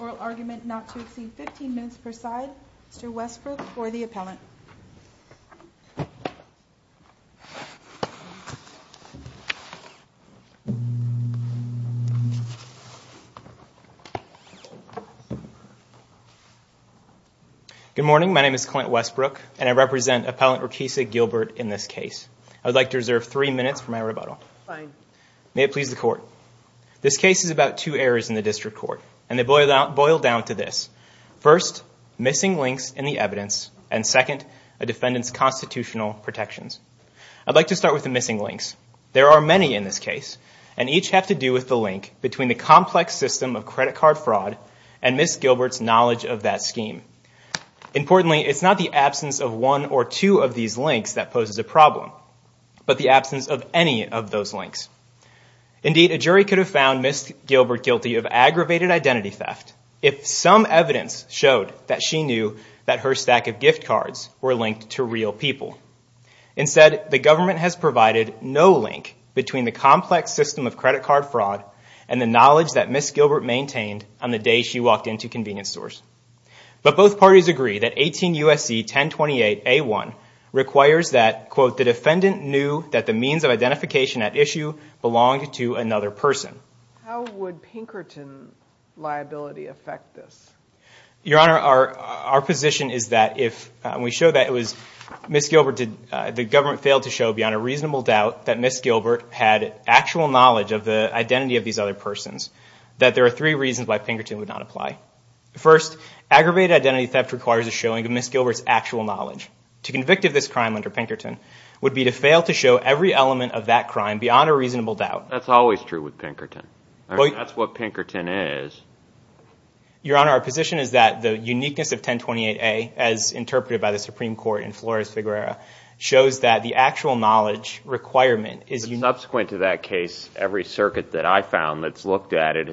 Oral argument not to exceed 15 minutes per side. Mr. Westbrook for the appellant. Good morning. My name is Clint Westbrook, and I represent Appellant Rakesia Gilbert in this case. I would like to reserve three minutes for my rebuttal. May it please the court. This case is about two errors in the district court, and they boil down to this. First, missing links in the evidence, and second, a defendant's constitutional protections. I'd like to start with the missing links. There are many in this case, and each have to do with the link between the complex system of credit card fraud and Ms. Gilbert's knowledge of that scheme. Importantly, it's not the absence of one or two of these links that poses a problem, but the absence of any of those links. Indeed, a jury could have found Ms. Gilbert guilty of aggravated identity theft if some evidence showed that she knew that her stack of gift cards were linked to real people. Instead, the government has provided no link between the complex system of credit card fraud and the knowledge that Ms. Gilbert maintained on the day she walked into convenience stores. But both parties agree that 18 U.S.C. 1028A1 requires that, quote, the defendant knew that the means of identification at issue belonged to another person. How would Pinkerton liability affect this? Your Honor, our position is that if, and we showed that it was Ms. Gilbert, the government failed to show beyond a reasonable doubt that Ms. Gilbert had actual knowledge of the identity of these other persons, that there are three reasons why Pinkerton would not apply. First, aggravated identity theft requires a showing of Ms. Gilbert's actual knowledge. To convict of this crime under Pinkerton would be to fail to show every element of that crime beyond a reasonable doubt. That's always true with Pinkerton. That's what Pinkerton is. Your Honor, our position is that the uniqueness of 1028A, as interpreted by the Supreme Court in Flores-Figuera, shows that the actual knowledge requirement is unique. Subsequent to that case, every has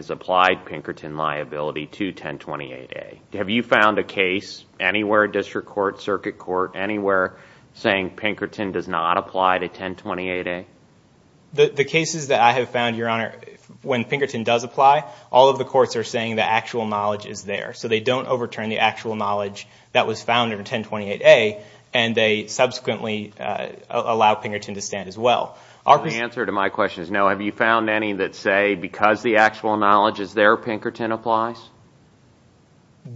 applied Pinkerton liability to 1028A. Have you found a case anywhere, district court, circuit court, anywhere, saying Pinkerton does not apply to 1028A? The cases that I have found, Your Honor, when Pinkerton does apply, all of the courts are saying the actual knowledge is there. So they don't overturn the actual knowledge that was found in 1028A and they subsequently allow Pinkerton to stand as well. The answer to my question is no. Have you found any that say because the actual knowledge is there, Pinkerton applies?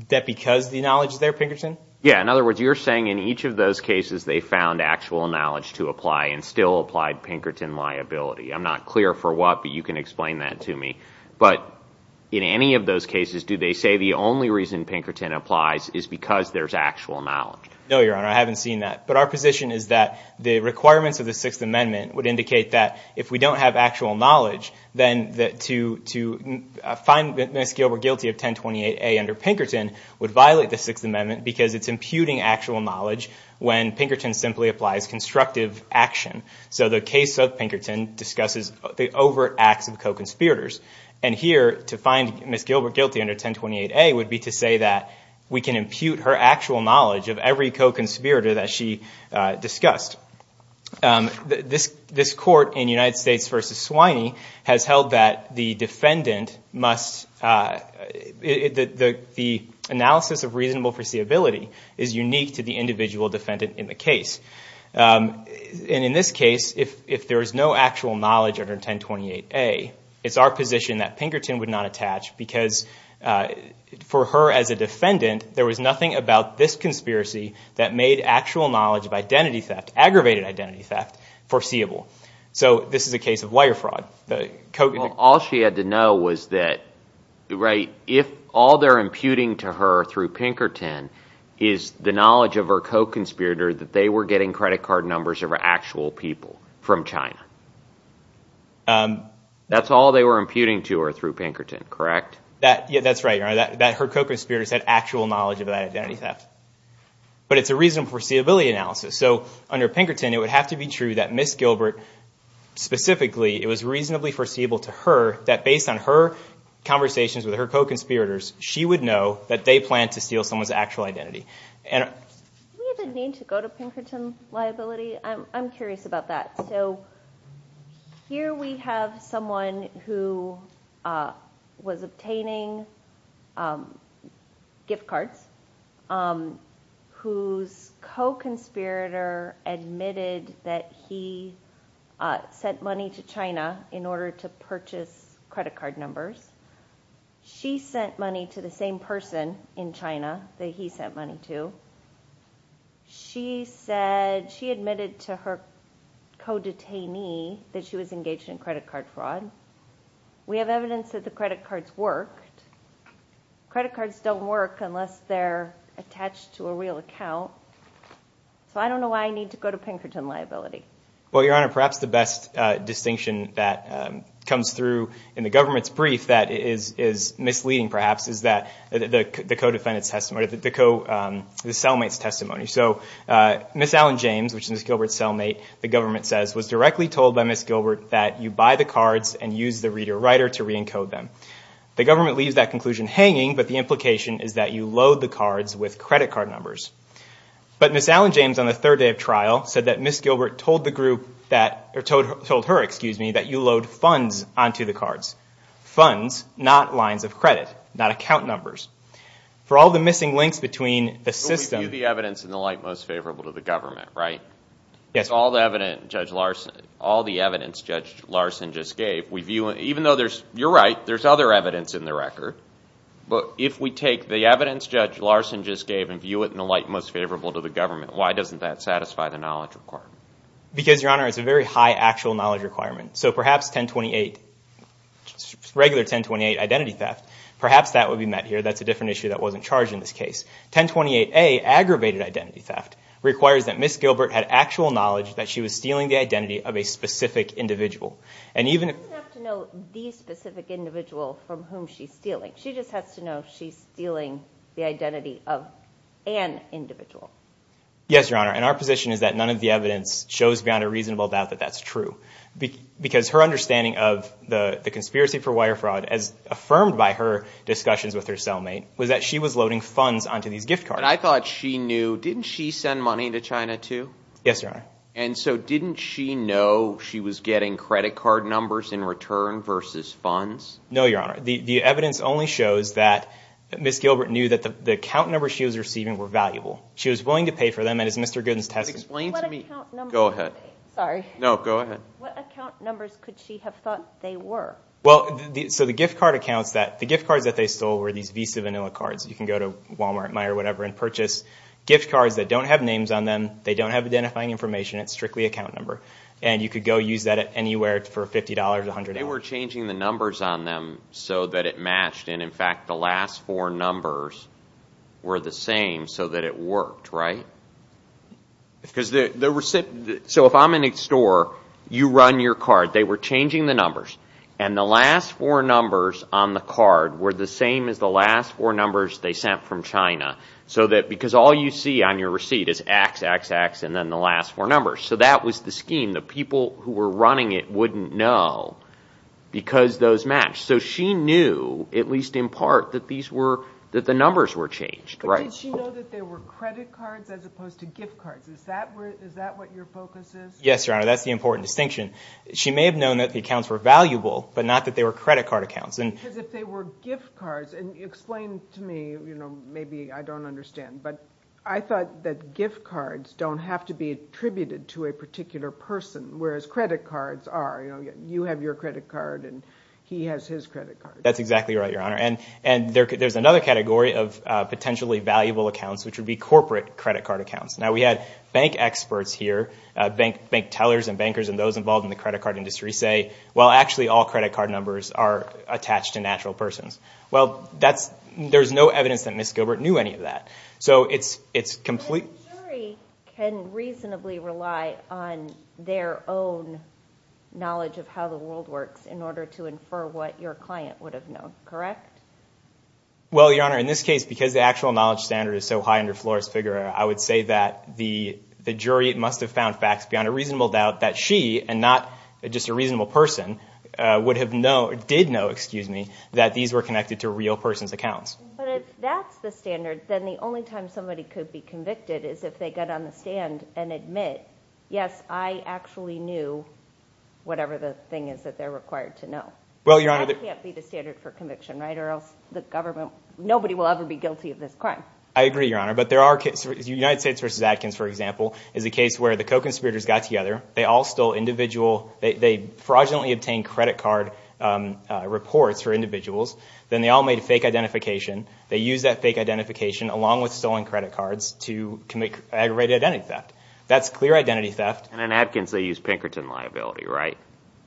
That because the knowledge is there, Pinkerton? Yeah, in other words, you're saying in each of those cases they found actual knowledge to apply and still applied Pinkerton liability. I'm not clear for what, but you can explain that to me. But in any of those cases, do they say the only reason Pinkerton applies is because there's actual knowledge? No, Your Honor, I haven't seen that. But our position is that the requirements of the Sixth Amendment would indicate that if we don't have actual knowledge, then to find Ms. Gilbert guilty of 1028A under Pinkerton would violate the Sixth Amendment because it's imputing actual knowledge when Pinkerton simply applies constructive action. So the case of Pinkerton discusses the overt acts of co-conspirators. And here, to find Ms. Gilbert guilty under 1028A would be to say that we can impute her actual knowledge of every co-conspirator that she discussed. This, this court in United States v. Swiney has held that the defendant must, the analysis of reasonable foreseeability is unique to the individual defendant in the case. And in this case, if there is no actual knowledge under 1028A, it's our position that Pinkerton would not attach because for her as a defendant, there was nothing about this conspiracy that made actual knowledge of identity theft, aggravated identity theft, foreseeable. So this is a case of wire fraud. All she had to know was that, right, if all they're imputing to her through Pinkerton is the knowledge of her co-conspirator that they were getting credit card numbers of actual people from China. That's all they were imputing to her through Pinkerton, correct? That's right, Your Honor, that her co-conspirators had actual knowledge of that identity theft. But it's a reasonable foreseeability analysis. So under Pinkerton it would have to be true that Ms. Gilbert specifically, it was reasonably foreseeable to her that based on her conversations with her co-conspirators, she would know that they planned to steal someone's actual identity. Do we have a need to go to Pinkerton liability? I'm curious about that. So here we have someone who was obtaining gift cards whose co-conspirator admitted that he sent money to China in order to purchase credit card numbers. She sent money to the same person in China that he sent money to. She admitted to her co-detainee that she was engaged in credit card fraud. We have evidence that the credit cards worked. Credit cards don't work unless they're attached to a real account. So I don't know why I need to go to Pinkerton liability. Well, Your Honor, perhaps the best distinction that comes through in the government's brief that is misleading perhaps is that the co-defendant's testimony, the cellmate's testimony. So Ms. Alan James, which is Ms. Gilbert's cellmate, the government says was directly told by Ms. Gilbert to use the reader-writer to re-encode them. The government leaves that conclusion hanging but the implication is that you load the cards with credit card numbers. But Ms. Alan James, on the third day of trial, said that Ms. Gilbert told her that you load funds onto the cards. Funds, not lines of credit, not account numbers. For all the missing links between the system... So we view the evidence in the light most favorable to the government, right? Yes. If we take all the evidence Judge Larson just gave, even though you're right, there's other evidence in the record, but if we take the evidence Judge Larson just gave and view it in the light most favorable to the government, why doesn't that satisfy the knowledge requirement? Because Your Honor, it's a very high actual knowledge requirement. So perhaps 1028, regular 1028 identity theft, perhaps that would be met here. That's a different issue that wasn't charged in this case. 1028A, aggravated identity theft, requires that Ms. Gilbert had actual knowledge that she was stealing the identity of a specific individual. She doesn't have to know the specific individual from whom she's stealing. She just has to know she's stealing the identity of an individual. Yes, Your Honor. And our position is that none of the evidence shows beyond a reasonable doubt that that's true. Because her understanding of the conspiracy for wire fraud, as affirmed by her discussions with her cellmate, was that she was loading funds onto these gift cards. And I thought she knew, didn't she send money to China too? Yes, Your Honor. And so didn't she know she was getting credit card numbers in return versus funds? No, Your Honor. The evidence only shows that Ms. Gilbert knew that the account numbers she was receiving were valuable. She was willing to pay for them and as Mr. Gooden's testimony explained to me... What account numbers? Go ahead. Sorry. No, go ahead. What account numbers could she have thought they were? Well, so the gift card accounts that, the gift cards that they stole were these Visa Vanilla cards. You can go to Walmart, Meyer, whatever, and purchase gift cards that don't have names on them. They don't have identifying information. It's strictly account number. And you could go use that anywhere for $50, $100. They were changing the numbers on them so that it matched. And in fact, the last four numbers were the same so that it worked, right? So if I'm in a store, you run your card. They were changing the numbers. And the last four numbers on the card were the same as the last four numbers they sent from China. So that, because all you see on your receipt is X, X, X, and then the last four numbers. So that was the scheme. The people who were running it wouldn't know because those matched. So she knew, at least in part, that these were, that the numbers were changed, right? But did she know that they were credit cards as opposed to gift cards? Is that what your focus is? Yes, Your Honor. That's the important distinction. She may have known that the accounts were valuable but not that they were credit card accounts. Because if they were gift cards, and explain to me, maybe I don't understand, but I thought that gift cards don't have to be attributed to a particular person, whereas credit cards are. You have your credit card and he has his credit card. That's exactly right, Your Honor. And there's another category of potentially valuable accounts which would be corporate credit card accounts. Now we had bank experts here, bank tellers and bankers and those involved in the credit card industry say, well actually all credit card numbers are attached to natural persons. Well, that's, there's no evidence that Ms. Gilbert knew any of that. So it's, it's complete... But a jury can reasonably rely on their own knowledge of how the world works in order to infer what your client would have known, correct? Well, Your Honor, in this case, because the actual knowledge standard is so high under Flores-Figueroa, I would say that the jury must have found facts beyond a reasonable doubt that she, and not just a reasonable person, would have known, or did know, excuse me, that these were connected to real persons' accounts. But if that's the standard, then the only time somebody could be convicted is if they got on the stand and admit, yes, I actually knew whatever the thing is that they're required to know. Well, Your Honor... That can't be the standard for conviction, right? Or else the government, nobody will ever be guilty of this crime. I agree, Your Honor. But there are, United States v. Atkins, for example, is a case where the co-conspirators got together, they all stole individual, they fraudulently obtained credit card reports for individuals, then they all made a fake identification, they used that fake identification, along with stolen credit cards, to commit aggravated identity theft. That's clear identity theft. And in Atkins, they used Pinkerton liability, right?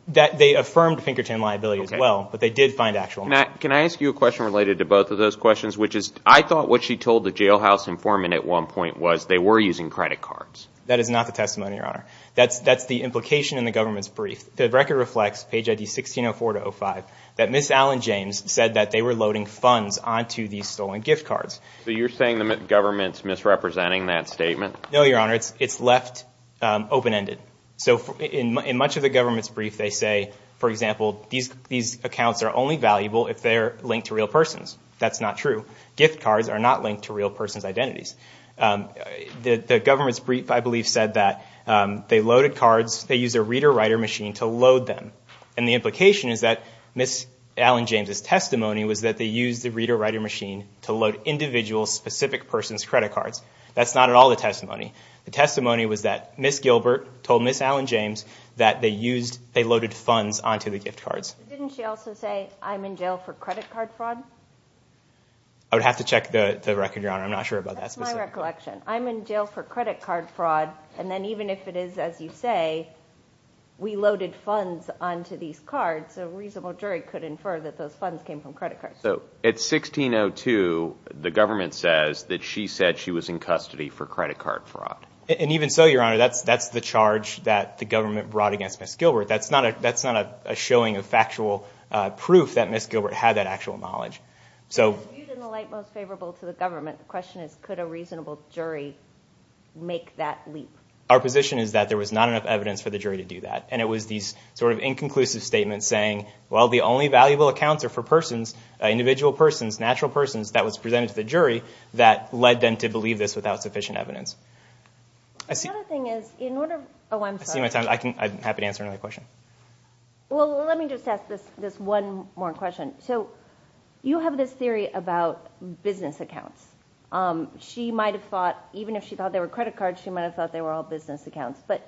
They affirmed Pinkerton liability as well, but they did find actual money. Can I ask you a question related to both of those questions, which is, I thought what she told the jailhouse informant at one point was they were using credit cards. That is not the testimony, Your Honor. That's the implication in the government's brief. The record reflects, page ID 1604-05, that Ms. Allen James said that they were loading funds onto these stolen gift cards. So you're saying the government's misrepresenting that statement? No, Your Honor. It's left open-ended. So in much of the government's brief, they say, for example, these accounts are only valuable if they're linked to real persons. That's The government's brief, I believe, said that they loaded cards, they used a reader-writer machine to load them. And the implication is that Ms. Allen James' testimony was that they used the reader-writer machine to load individual, specific persons' credit cards. That's not at all the testimony. The testimony was that Ms. Gilbert told Ms. Allen James that they used, they loaded funds onto the gift cards. Didn't she also say, I'm in jail for credit card fraud? I would have to check the record, Your Honor. I'm not sure about that specifically. That's my recollection. I'm in jail for credit card fraud, and then even if it is, as you say, we loaded funds onto these cards, a reasonable jury could infer that those funds came from credit cards. So at 1602, the government says that she said she was in custody for credit card fraud. And even so, Your Honor, that's the charge that the government brought against Ms. Gilbert. That's not a showing of factual proof that Ms. Gilbert had that actual knowledge. So viewed in the light most favorable to the government, the question is, could a reasonable jury make that leap? Our position is that there was not enough evidence for the jury to do that. And it was these sort of inconclusive statements saying, well, the only valuable accounts are for persons, individual persons, natural persons, that was presented to the jury that led them to believe this without sufficient evidence. The other thing is, in order, oh, I'm sorry. I see my time. I'm happy to answer another question. Well, let me just ask this one more question. So you have this theory about business accounts. She might have thought, even if she thought they were credit cards, she might have thought they were all business accounts. But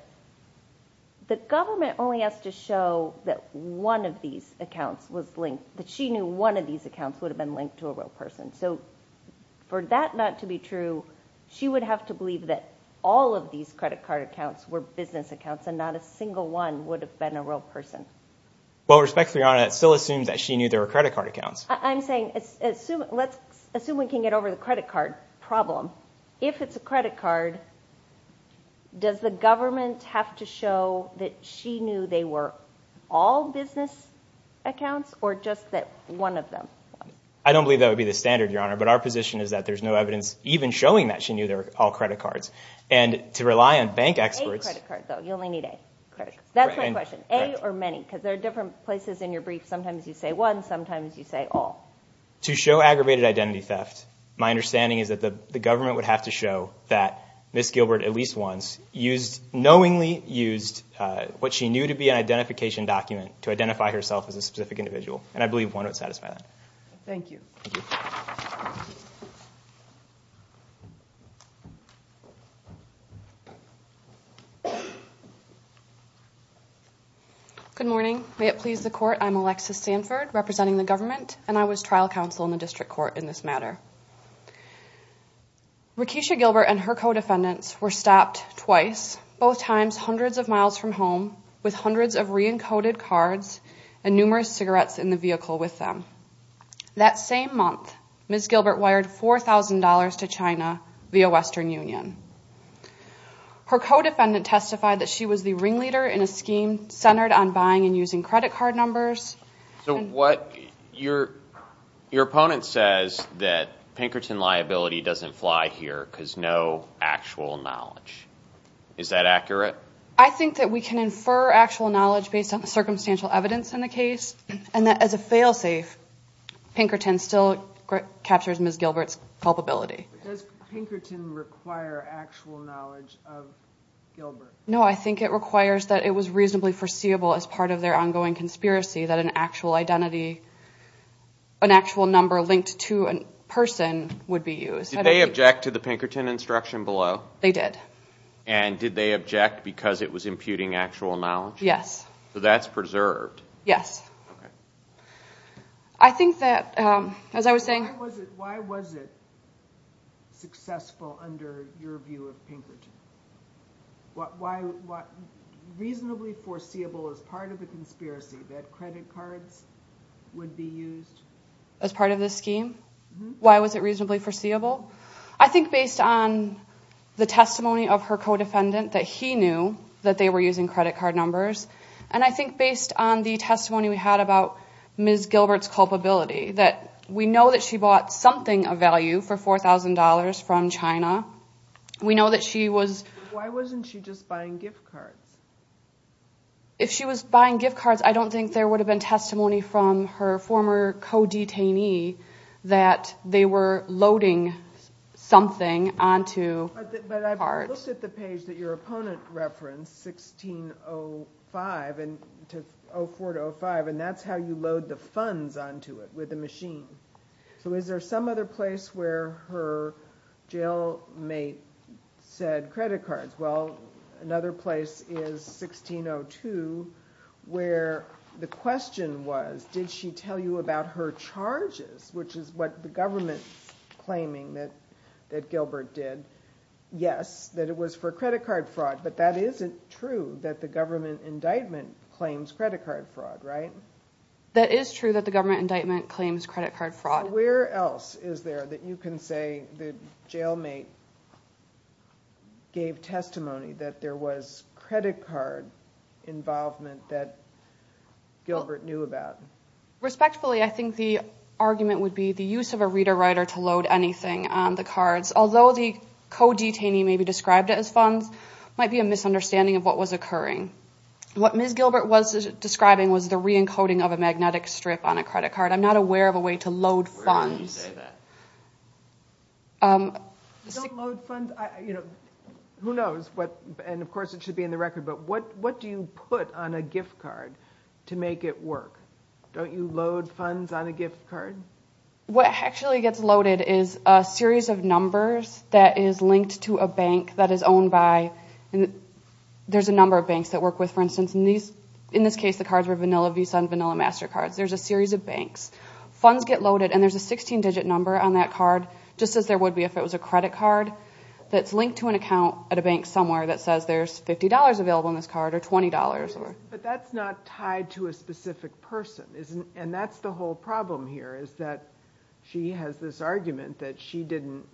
the government only has to show that one of these accounts was linked, that she knew one of these accounts would have been linked to a real person. So for that not to be true, she would have to believe that all of these credit card accounts were business accounts and not a single one would have been a real person. Well, with respect to Your Honor, it still assumes that she knew there were credit card accounts. I'm saying, let's assume we can get over the credit card problem. If it's a credit card, does the government have to show that she knew they were all business accounts or just that one of them? I don't believe that would be the standard, Your Honor, but our position is that there's no evidence even showing that she knew they were all credit cards. To rely on bank experts... A credit card, though. You only need A credit. That's my question. A or many, because there are different places in your brief. Sometimes you say one, sometimes you say all. To show aggravated identity theft, my understanding is that the government would have to show that Ms. Gilbert, at least once, knowingly used what she knew to be an identification document to identify herself as a specific individual, and I believe one would satisfy that. Thank you. Good morning. May it please the court, I'm Alexis Sanford, representing the government, and I was trial counsel in the district court in this matter. Rekisha Gilbert and her co-defendants were stopped twice, both times hundreds of miles from home with hundreds of re-encoded cards and numerous cigarettes in the vehicle with them. That same month, Ms. Gilbert wired $4,000 to China via Western Union. Her co-defendant testified that she was the ringleader in a scheme centered on buying and using credit card numbers. Your opponent says that Pinkerton liability doesn't fly here because no actual knowledge. Is that accurate? I think that we can infer actual knowledge based on the circumstantial evidence in the case of the sale safe, Pinkerton still captures Ms. Gilbert's culpability. Does Pinkerton require actual knowledge of Gilbert? No, I think it requires that it was reasonably foreseeable as part of their ongoing conspiracy that an actual identity, an actual number linked to a person would be used. Did they object to the Pinkerton instruction below? They did. And did they object because it was imputing actual knowledge? Yes. So that's preserved? Yes. Okay. All right. I think that, as I was saying... Why was it successful under your view of Pinkerton? Reasonably foreseeable as part of the conspiracy that credit cards would be used? As part of the scheme? Why was it reasonably foreseeable? I think based on the testimony of her co-defendant that he knew that they were using credit card numbers. And I think based on the testimony we had about Ms. Gilbert's culpability, that we know that she bought something of value for $4,000 from China. We know that she was... Why wasn't she just buying gift cards? If she was buying gift cards, I don't think there would have been testimony from her former But I've looked at the page that your opponent referenced, 1605, and to 04 to 05, and that's how you load the funds onto it, with the machine. So is there some other place where her jail mate said credit cards? Well, another place is 1602, where the question was, did she tell you about her charges, which is what the government's claiming that Gilbert did. Yes, that it was for credit card fraud, but that isn't true that the government indictment claims credit card fraud, right? That is true that the government indictment claims credit card fraud. Where else is there that you can say the jail mate gave testimony that there was credit card involvement that Gilbert knew about? Respectfully, I think the argument would be the use of a reader-writer to load anything on the cards, although the co-detainee maybe described it as funds, might be a misunderstanding of what was occurring. What Ms. Gilbert was describing was the re-encoding of a magnetic strip on a credit card. I'm not aware of a way to load funds. Where do you say that? You don't load funds? Who knows? And of course, it should be in the record, but what do you put on a gift card to make it work? Don't you load funds on a gift card? What actually gets loaded is a series of numbers that is linked to a bank that is owned by... There's a number of banks that work with, for instance, in this case, the cards were Vanilla Visa and Vanilla MasterCard. There's a series of banks. Funds get loaded, and there's a 16-digit number on that card, just as there would be if it was a credit card, that's linked to an account at a bank somewhere that says there's $50 available in this card, or $20. But that's not tied to a specific person, and that's the whole problem here, is that she has this argument that she didn't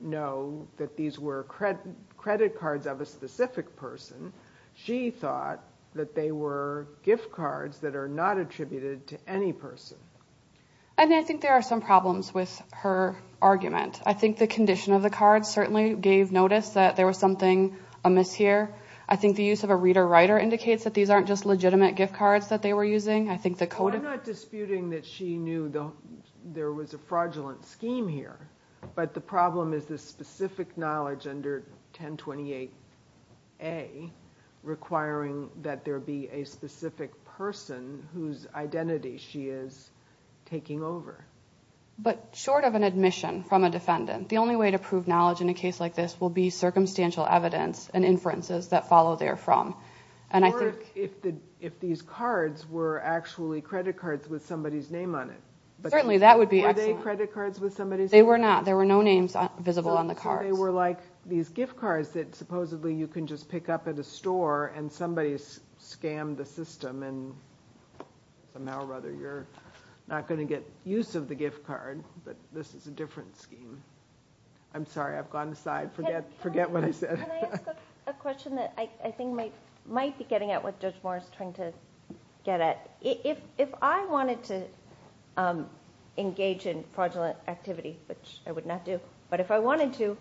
know that these were credit cards of a specific person. She thought that they were gift cards that are not attributed to any person. And I think there are some problems with her argument. I think the condition of the cards certainly gave notice that there was something amiss here. I think the use of a reader-writer indicates that these aren't just legitimate gift cards that they were using. I think the code... Well, I'm not disputing that she knew there was a fraudulent scheme here, but the problem is this specific knowledge under 1028A requiring that there be a specific person whose identity she is taking over. But short of an admission from a defendant, the only way to prove knowledge in a case like this will be circumstantial evidence and inferences that follow therefrom. And I think... Or if these cards were actually credit cards with somebody's name on it. Certainly, that would be excellent. Were they credit cards with somebody's name? They were not. There were no names visible on the cards. So they were like these gift cards that supposedly you can just pick up at a store and somebody scammed the system, and somehow or other you're not going to get use of the gift card, but this is a different scheme. I'm sorry. I've gone aside. Forget what I said. Can I ask a question that I think might be getting at what Judge Moore is trying to get at? If I wanted to engage in fraudulent activity, which I would not do, but if I wanted to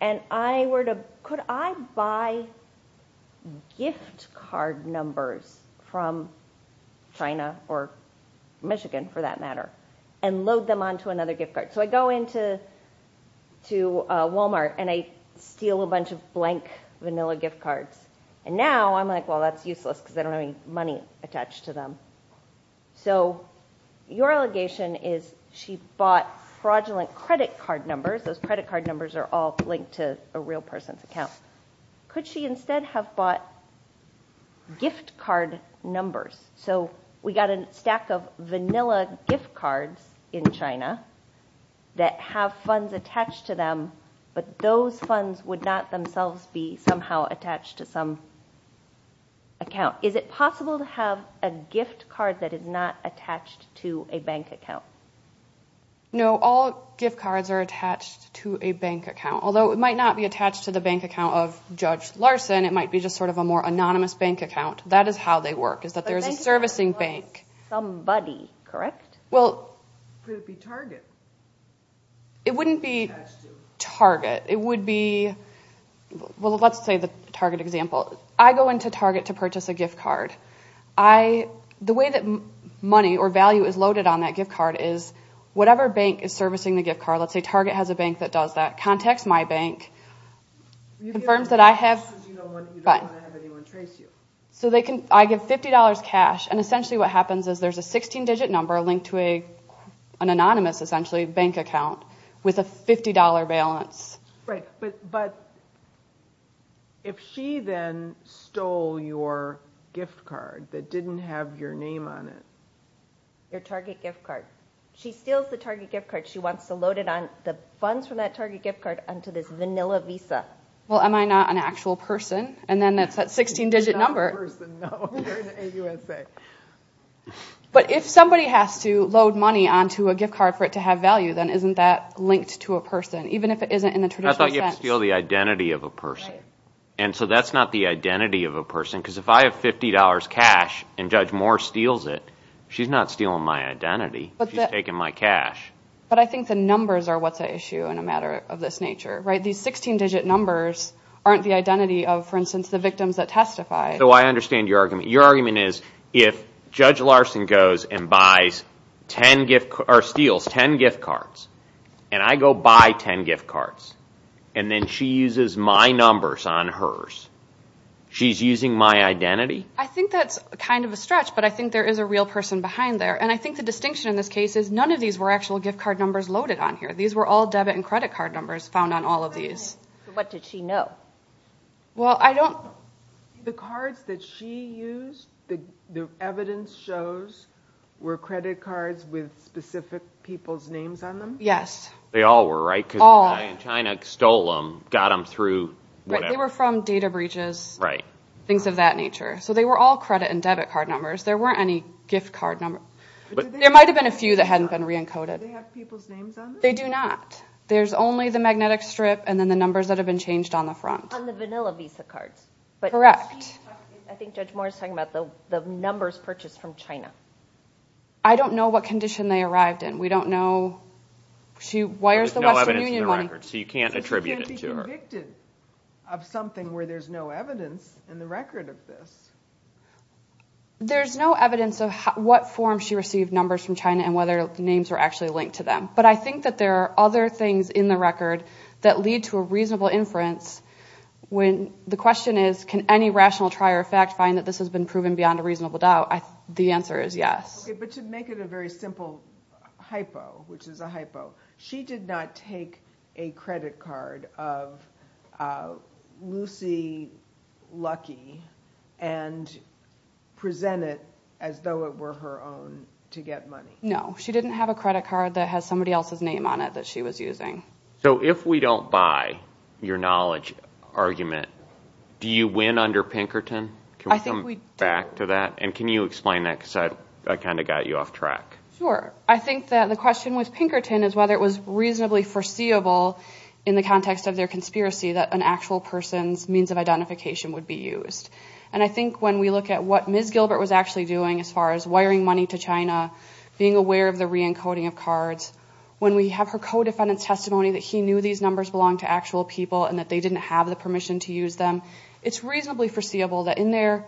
and I were to... Could I buy gift card numbers from China or Michigan, for that matter, and load them onto another gift card? So I go into Walmart and I steal a bunch of blank vanilla gift cards. And now I'm like, well, that's useless because I don't have any money attached to them. So your allegation is she bought fraudulent credit card numbers. Those credit card numbers are all linked to a real person's account. Could she instead have bought gift card numbers? So we got a stack of vanilla gift cards in China that have funds attached to them, but those funds would not themselves be somehow attached to some account. Is it possible to have a gift card that is not attached to a bank account? No. All gift cards are attached to a bank account, although it might not be attached to the bank account of Judge Larson. It might be just sort of a more anonymous bank account. That is how they work. But then you would have lost somebody, correct? Well... Could it be Target? It wouldn't be Target. It would be... Well, let's say the Target example. I go into Target to purchase a gift card. The way that money or value is loaded on that gift card is whatever bank is servicing the gift card, let's say Target has a bank that does that, contacts my bank, confirms that I have... You don't want to have anyone trace you. So I give $50 cash, and essentially what happens is there's a 16-digit number linked to an anonymous essentially bank account with a $50 balance. But if she then stole your gift card that didn't have your name on it... Your Target gift card. She steals the Target gift card. She wants to load it on the funds from that Target gift card onto this vanilla Visa. Well, am I not an actual person? And then it's that 16-digit number... You're not a person, no. You're in the AUSA. But if somebody has to load money onto a gift card for it to have value, then isn't that linked to a person? Even if it isn't in the traditional sense. I thought you had to steal the identity of a person. And so that's not the identity of a person, because if I have $50 cash and Judge Moore steals it, she's not stealing my identity, she's taking my cash. But I think the numbers are what's at issue in a matter of this nature, right? These 16-digit numbers aren't the identity of, for instance, the victims that testify. So I understand your argument. Your argument is if Judge Larson goes and buys 10 gift cards, or steals 10 gift cards, and I go buy 10 gift cards, and then she uses my numbers on hers, she's using my identity? I think that's kind of a stretch, but I think there is a real person behind there. And I think the distinction in this case is none of these were actual gift card numbers loaded on here. These were all debit and credit card numbers found on all of these. What did she know? Well, I don't... The cards that she used, the evidence shows, were credit cards with specific people's names on them? Yes. They all were, right? All. Because the guy in China stole them, got them through whatever. Right. They were from data breaches. Right. Things of that nature. So they were all credit and debit card numbers. There weren't any gift card numbers. There might have been a few that hadn't been re-encoded. Do they have people's names on them? They do not. There's only the magnetic strip and then the numbers that have been changed on the front. On the vanilla visa cards. Correct. I think Judge Moore is talking about the numbers purchased from China. I don't know what condition they arrived in. She wires the Western Union money... There's no evidence in the records, so you can't attribute it to her. So she can't be convicted of something where there's no evidence in the record of this. There's no evidence of what form she received numbers from China and whether the names were actually linked to them. But I think that there are other things in the record that lead to a reasonable inference when the question is, can any rational trier of fact find that this has been proven beyond a reasonable doubt? The answer is yes. But to make it a very simple hypo, which is a hypo. She did not take a credit card of Lucy Lucky and present it as though it were her own to get money. No. She didn't have a credit card that has somebody else's name on it that she was using. So if we don't buy your knowledge argument, do you win under Pinkerton? I think we do. Can we come back to that? And can you explain that? Because I kind of got you off track. Sure. I think that the question with Pinkerton is whether it was reasonably foreseeable in the context of their conspiracy that an actual person's means of identification would be used. And I think when we look at what Ms. Gilbert was actually doing as far as wiring money to China, being aware of the re-encoding of cards, when we have her co-defendant's testimony that he knew these numbers belonged to actual people and that they didn't have the permission to use them, it's reasonably foreseeable that in their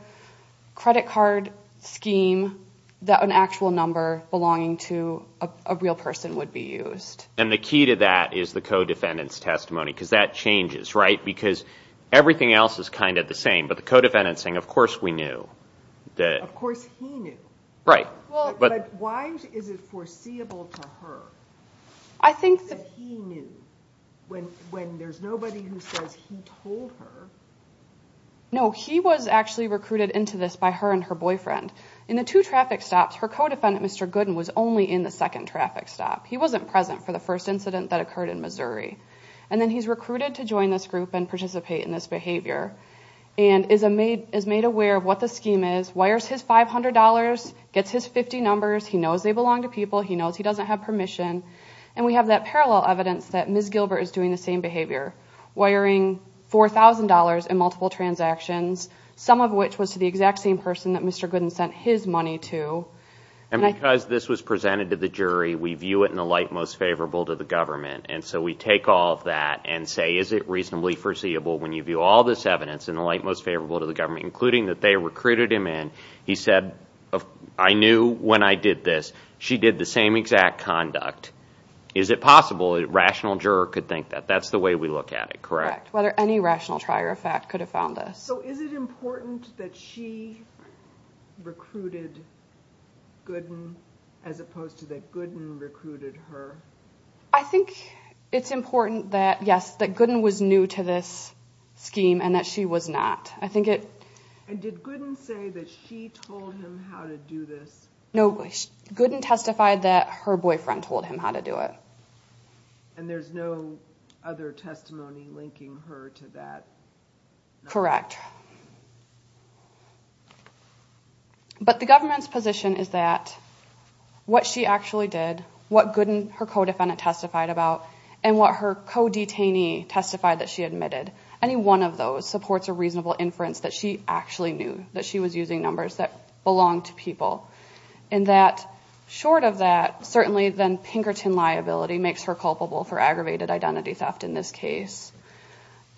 credit card scheme that an actual number belonging to a real person would be used. And the key to that is the co-defendant's testimony, because that changes, right? Because everything else is kind of the same, but the co-defendant's saying, of course we knew. Of course he knew. Right. But why is it foreseeable to her? I think that he knew, when there's nobody who says he told her. No, he was actually recruited into this by her and her boyfriend. In the two traffic stops, her co-defendant, Mr. Gooden, was only in the second traffic stop. He wasn't present for the first incident that occurred in Missouri. And then he's recruited to join this group and participate in this behavior, and is made aware of what the scheme is, wires his $500, gets his 50 numbers. He knows they belong to people. He knows he doesn't have permission. And we have that parallel evidence that Ms. Gilbert is doing the same behavior, wiring $4,000 in multiple transactions, some of which was to the exact same person that Mr. Gooden sent his money to. And because this was presented to the jury, we view it in the light most favorable to the government. And so we take all of that and say, is it reasonably foreseeable when you view all this evidence in the light most favorable to the government, including that they recruited him in? He said, I knew when I did this. She did the same exact conduct. Is it possible a rational juror could think that? That's the way we look at it, correct? Correct. Whether any rational trier of fact could have found this. So is it important that she recruited Gooden as opposed to that Gooden recruited her? I think it's important that, yes, that Gooden was new to this scheme and that she was not. I think it... And did Gooden say that she told him how to do this? No, Gooden testified that her boyfriend told him how to do it. And there's no other testimony linking her to that? Correct. But the government's position is that what she actually did, what Gooden, her co-defendant, testified about, and what her co-detainee testified that she admitted, any one of those supports a reasonable inference that she actually knew that she was using numbers that belonged to people. And that short of that, certainly then Pinkerton liability makes her culpable for aggravated identity theft in this case.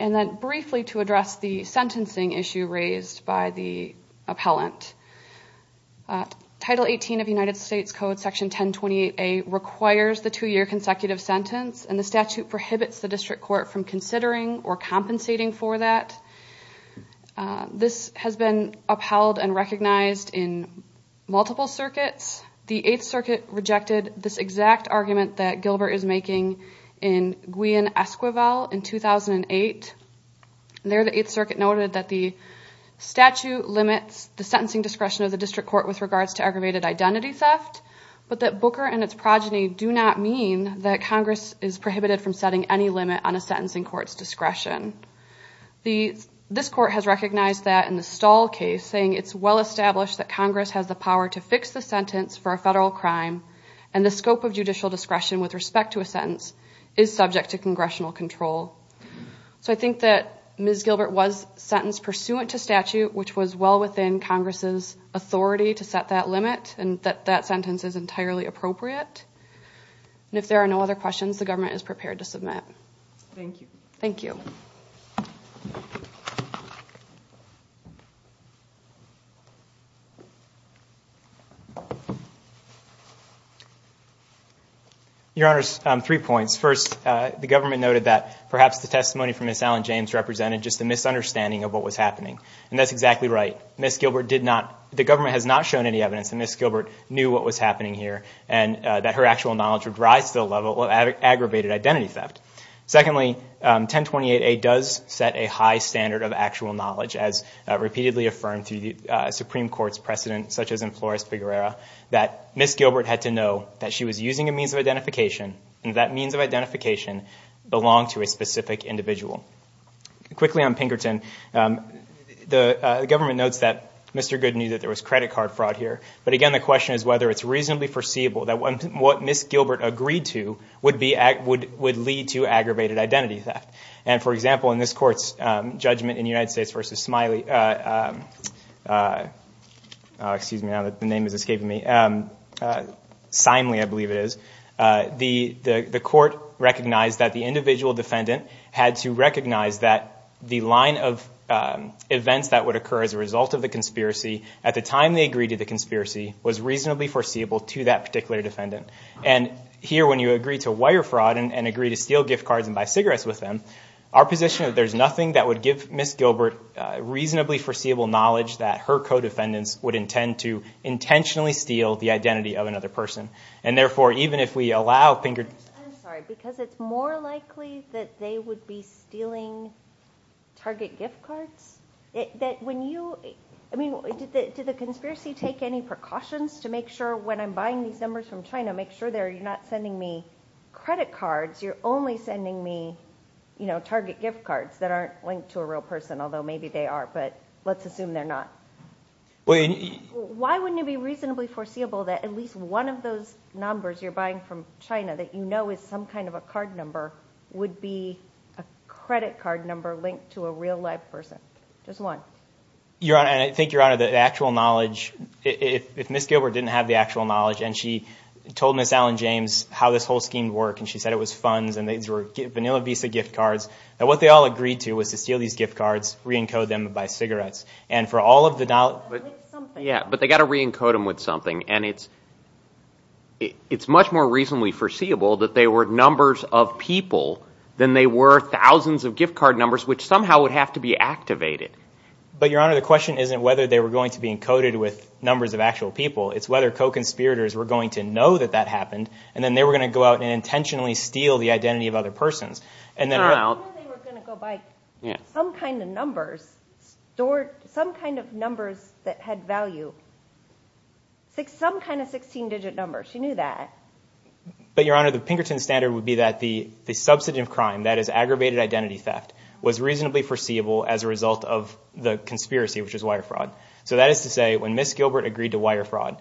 And then briefly to address the sentencing issue raised by the appellant, Title 18 of United States Code Section 1028A requires the two-year consecutive sentence and the statute prohibits the district court from considering or compensating for that. This has been upheld and recognized in multiple circuits. The Eighth Circuit rejected this exact argument that Gilbert is making in Gwian Esquivel in 2008. There, the Eighth Circuit noted that the statute limits the sentencing discretion of the district court with regards to aggravated identity theft, but that Booker and its progeny do not mean that Congress is prohibited from setting any limit on a sentencing court's discretion. This court has recognized that in the Stahl case, saying it's well established that Congress has the power to fix the sentence for a federal crime and the scope of judicial discretion with respect to a sentence is subject to congressional control. So I think that Ms. Gilbert was sentenced pursuant to statute, which was well within Congress's authority to set that limit and that that sentence is entirely appropriate. And if there are no other questions, the government is prepared to submit. Thank you. Thank you. Your Honor, three points. First, the government noted that perhaps the testimony from Ms. Alan James represented just a misunderstanding of what was happening, and that's exactly right. Ms. Gilbert did not, the government has not shown any evidence that Ms. Gilbert knew what was happening here and that her actual knowledge would rise to the level of aggravated identity theft. Secondly, 1028A does set a high standard of actual knowledge as repeatedly affirmed through the Supreme Court's precedent, such as in Flores-Figuerera, that Ms. Gilbert had to know that she was using a means of identification and that means of identification belonged to a specific individual. Quickly on Pinkerton, the government notes that Mr. Good knew that there was credit card fraud here. But again, the question is whether it's reasonably foreseeable that what Ms. Gilbert agreed to would lead to aggravated identity theft. And for example, in this court's judgment in United States v. Smiley, the court recognized that the individual defendant had to recognize that the line of events that would occur as a result of the conspiracy at the time they agreed to the conspiracy was reasonably foreseeable to that particular defendant. And here, when you agree to wire fraud and agree to steal gift cards and buy cigarettes with them, our position is that there's nothing that would give Ms. Gilbert reasonably foreseeable knowledge that her co-defendants would intend to intentionally steal the identity of another person. And therefore, even if we allow Pinkerton... I'm sorry. Because it's more likely that they would be stealing Target gift cards? I mean, did the conspiracy take any precautions to make sure when I'm buying these numbers from China, make sure that you're not sending me credit cards. You're only sending me Target gift cards that aren't linked to a real person, although maybe they are, but let's assume they're not. Why wouldn't it be reasonably foreseeable that at least one of those numbers you're buying from China that you know is some kind of a card number would be a credit card number linked to a real live person? Just one. Your Honor, and I think, Your Honor, the actual knowledge... If Ms. Gilbert didn't have the actual knowledge, and she told Ms. Alan James how this whole scheme worked, and she said it was funds, and these were Vanilla Visa gift cards, and what they all agreed to was to steal these gift cards, re-encode them, and buy cigarettes. And for all of the... With something. Yeah, but they've got to re-encode them with something, and it's much more reasonably foreseeable that they were numbers of people than they were thousands of gift card numbers, which somehow would have to be activated. But Your Honor, the question isn't whether they were going to be encoded with numbers of actual people. It's whether co-conspirators were going to know that that happened, and then they were going to go out and intentionally steal the identity of other persons. And then... I didn't know they were going to go buy some kind of numbers, stored some kind of numbers that had value. Some kind of 16-digit numbers. She knew that. But Your Honor, the Pinkerton standard would be that the subsidy of crime, that is aggravated identity theft, was reasonably foreseeable as a result of the conspiracy, which is wire fraud. So that is to say, when Ms. Gilbert agreed to wire fraud,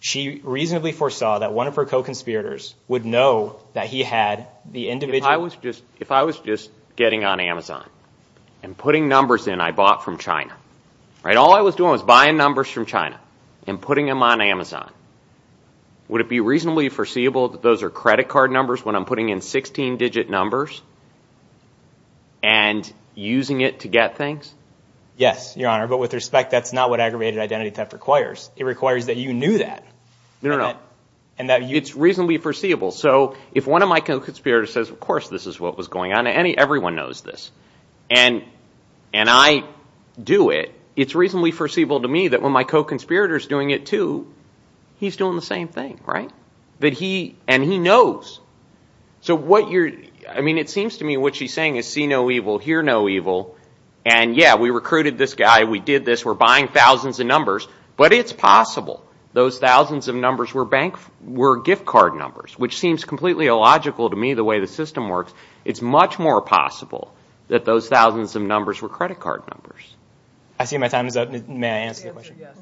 she reasonably foresaw that one of her co-conspirators would know that he had the individual... If I was just getting on Amazon and putting numbers in I bought from China, all I was doing was buying numbers from China and putting them on Amazon, would it be reasonably foreseeable that those are credit card numbers when I'm putting in 16-digit numbers and using it to get things? Yes, Your Honor. But with respect, that's not what aggravated identity theft requires. It requires that you knew that. No, no, no. It's reasonably foreseeable. So if one of my co-conspirators says, of course this is what was going on, everyone knows this, and I do it, it's reasonably foreseeable to me that when my co-conspirator's doing it too, he's doing the same thing, right? And he knows. So what you're... I mean, it seems to me what she's saying is see no evil, hear no evil, and yeah, we recruited this guy, we did this, we're buying thousands of numbers, but it's possible those thousands of numbers were gift card numbers, which seems completely illogical to me the way the system works. It's much more possible that those thousands of numbers were credit card numbers. I see my time is up. May I answer your question? Answer,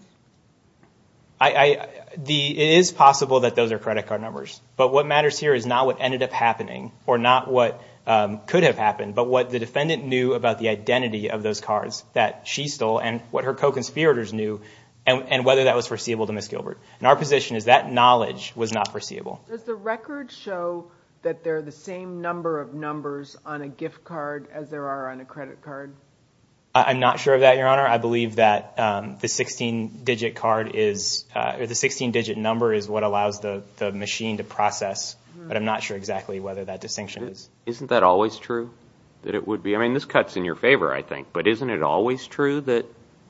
yes. It is possible that those are credit card numbers, but what matters here is not what ended up happening or not what could have happened, but what the defendant knew about the identity of those cards that she stole and what her co-conspirators knew, and whether that was foreseeable to Ms. Gilbert. And our position is that knowledge was not foreseeable. Does the record show that they're the same number of numbers on a gift card as there are on a credit card? I'm not sure of that, Your Honor. I believe that the 16-digit card is... The 16-digit number is what allows the machine to process, but I'm not sure exactly whether that distinction is. Isn't that always true? That it would be? I mean, this cuts in your favor, I think, but isn't it always true that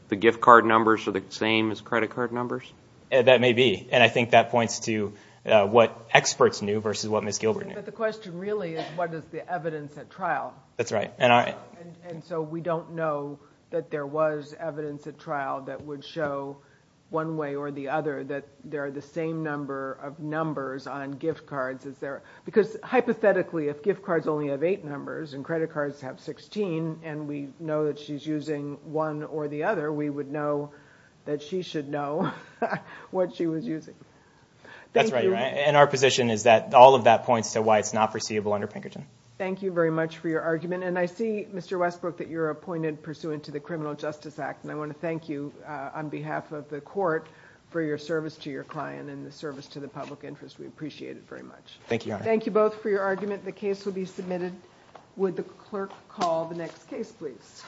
the gift card numbers are the same as credit card numbers? That may be. And I think that points to what experts knew versus what Ms. Gilbert knew. But the question really is what is the evidence at trial? That's right. And so we don't know that there was evidence at trial that would show one way or the other that there are the same number of numbers on gift cards as there... Because hypothetically, if gift cards only have eight numbers and credit cards have 16 and we know that she's using one or the other, we would know that she should know what she was using. Thank you. That's right, Your Honor. And our position is that all of that points to why it's not foreseeable under Pinkerton. Thank you very much for your argument. And I see, Mr. Westbrook, that you're appointed pursuant to the Criminal Justice Act, and I want to thank you on behalf of the court for your service to your client and the service to the public interest. We appreciate it very much. Thank you, Your Honor. Thank you both for your argument. The case will be submitted. Would the clerk call the next case, please?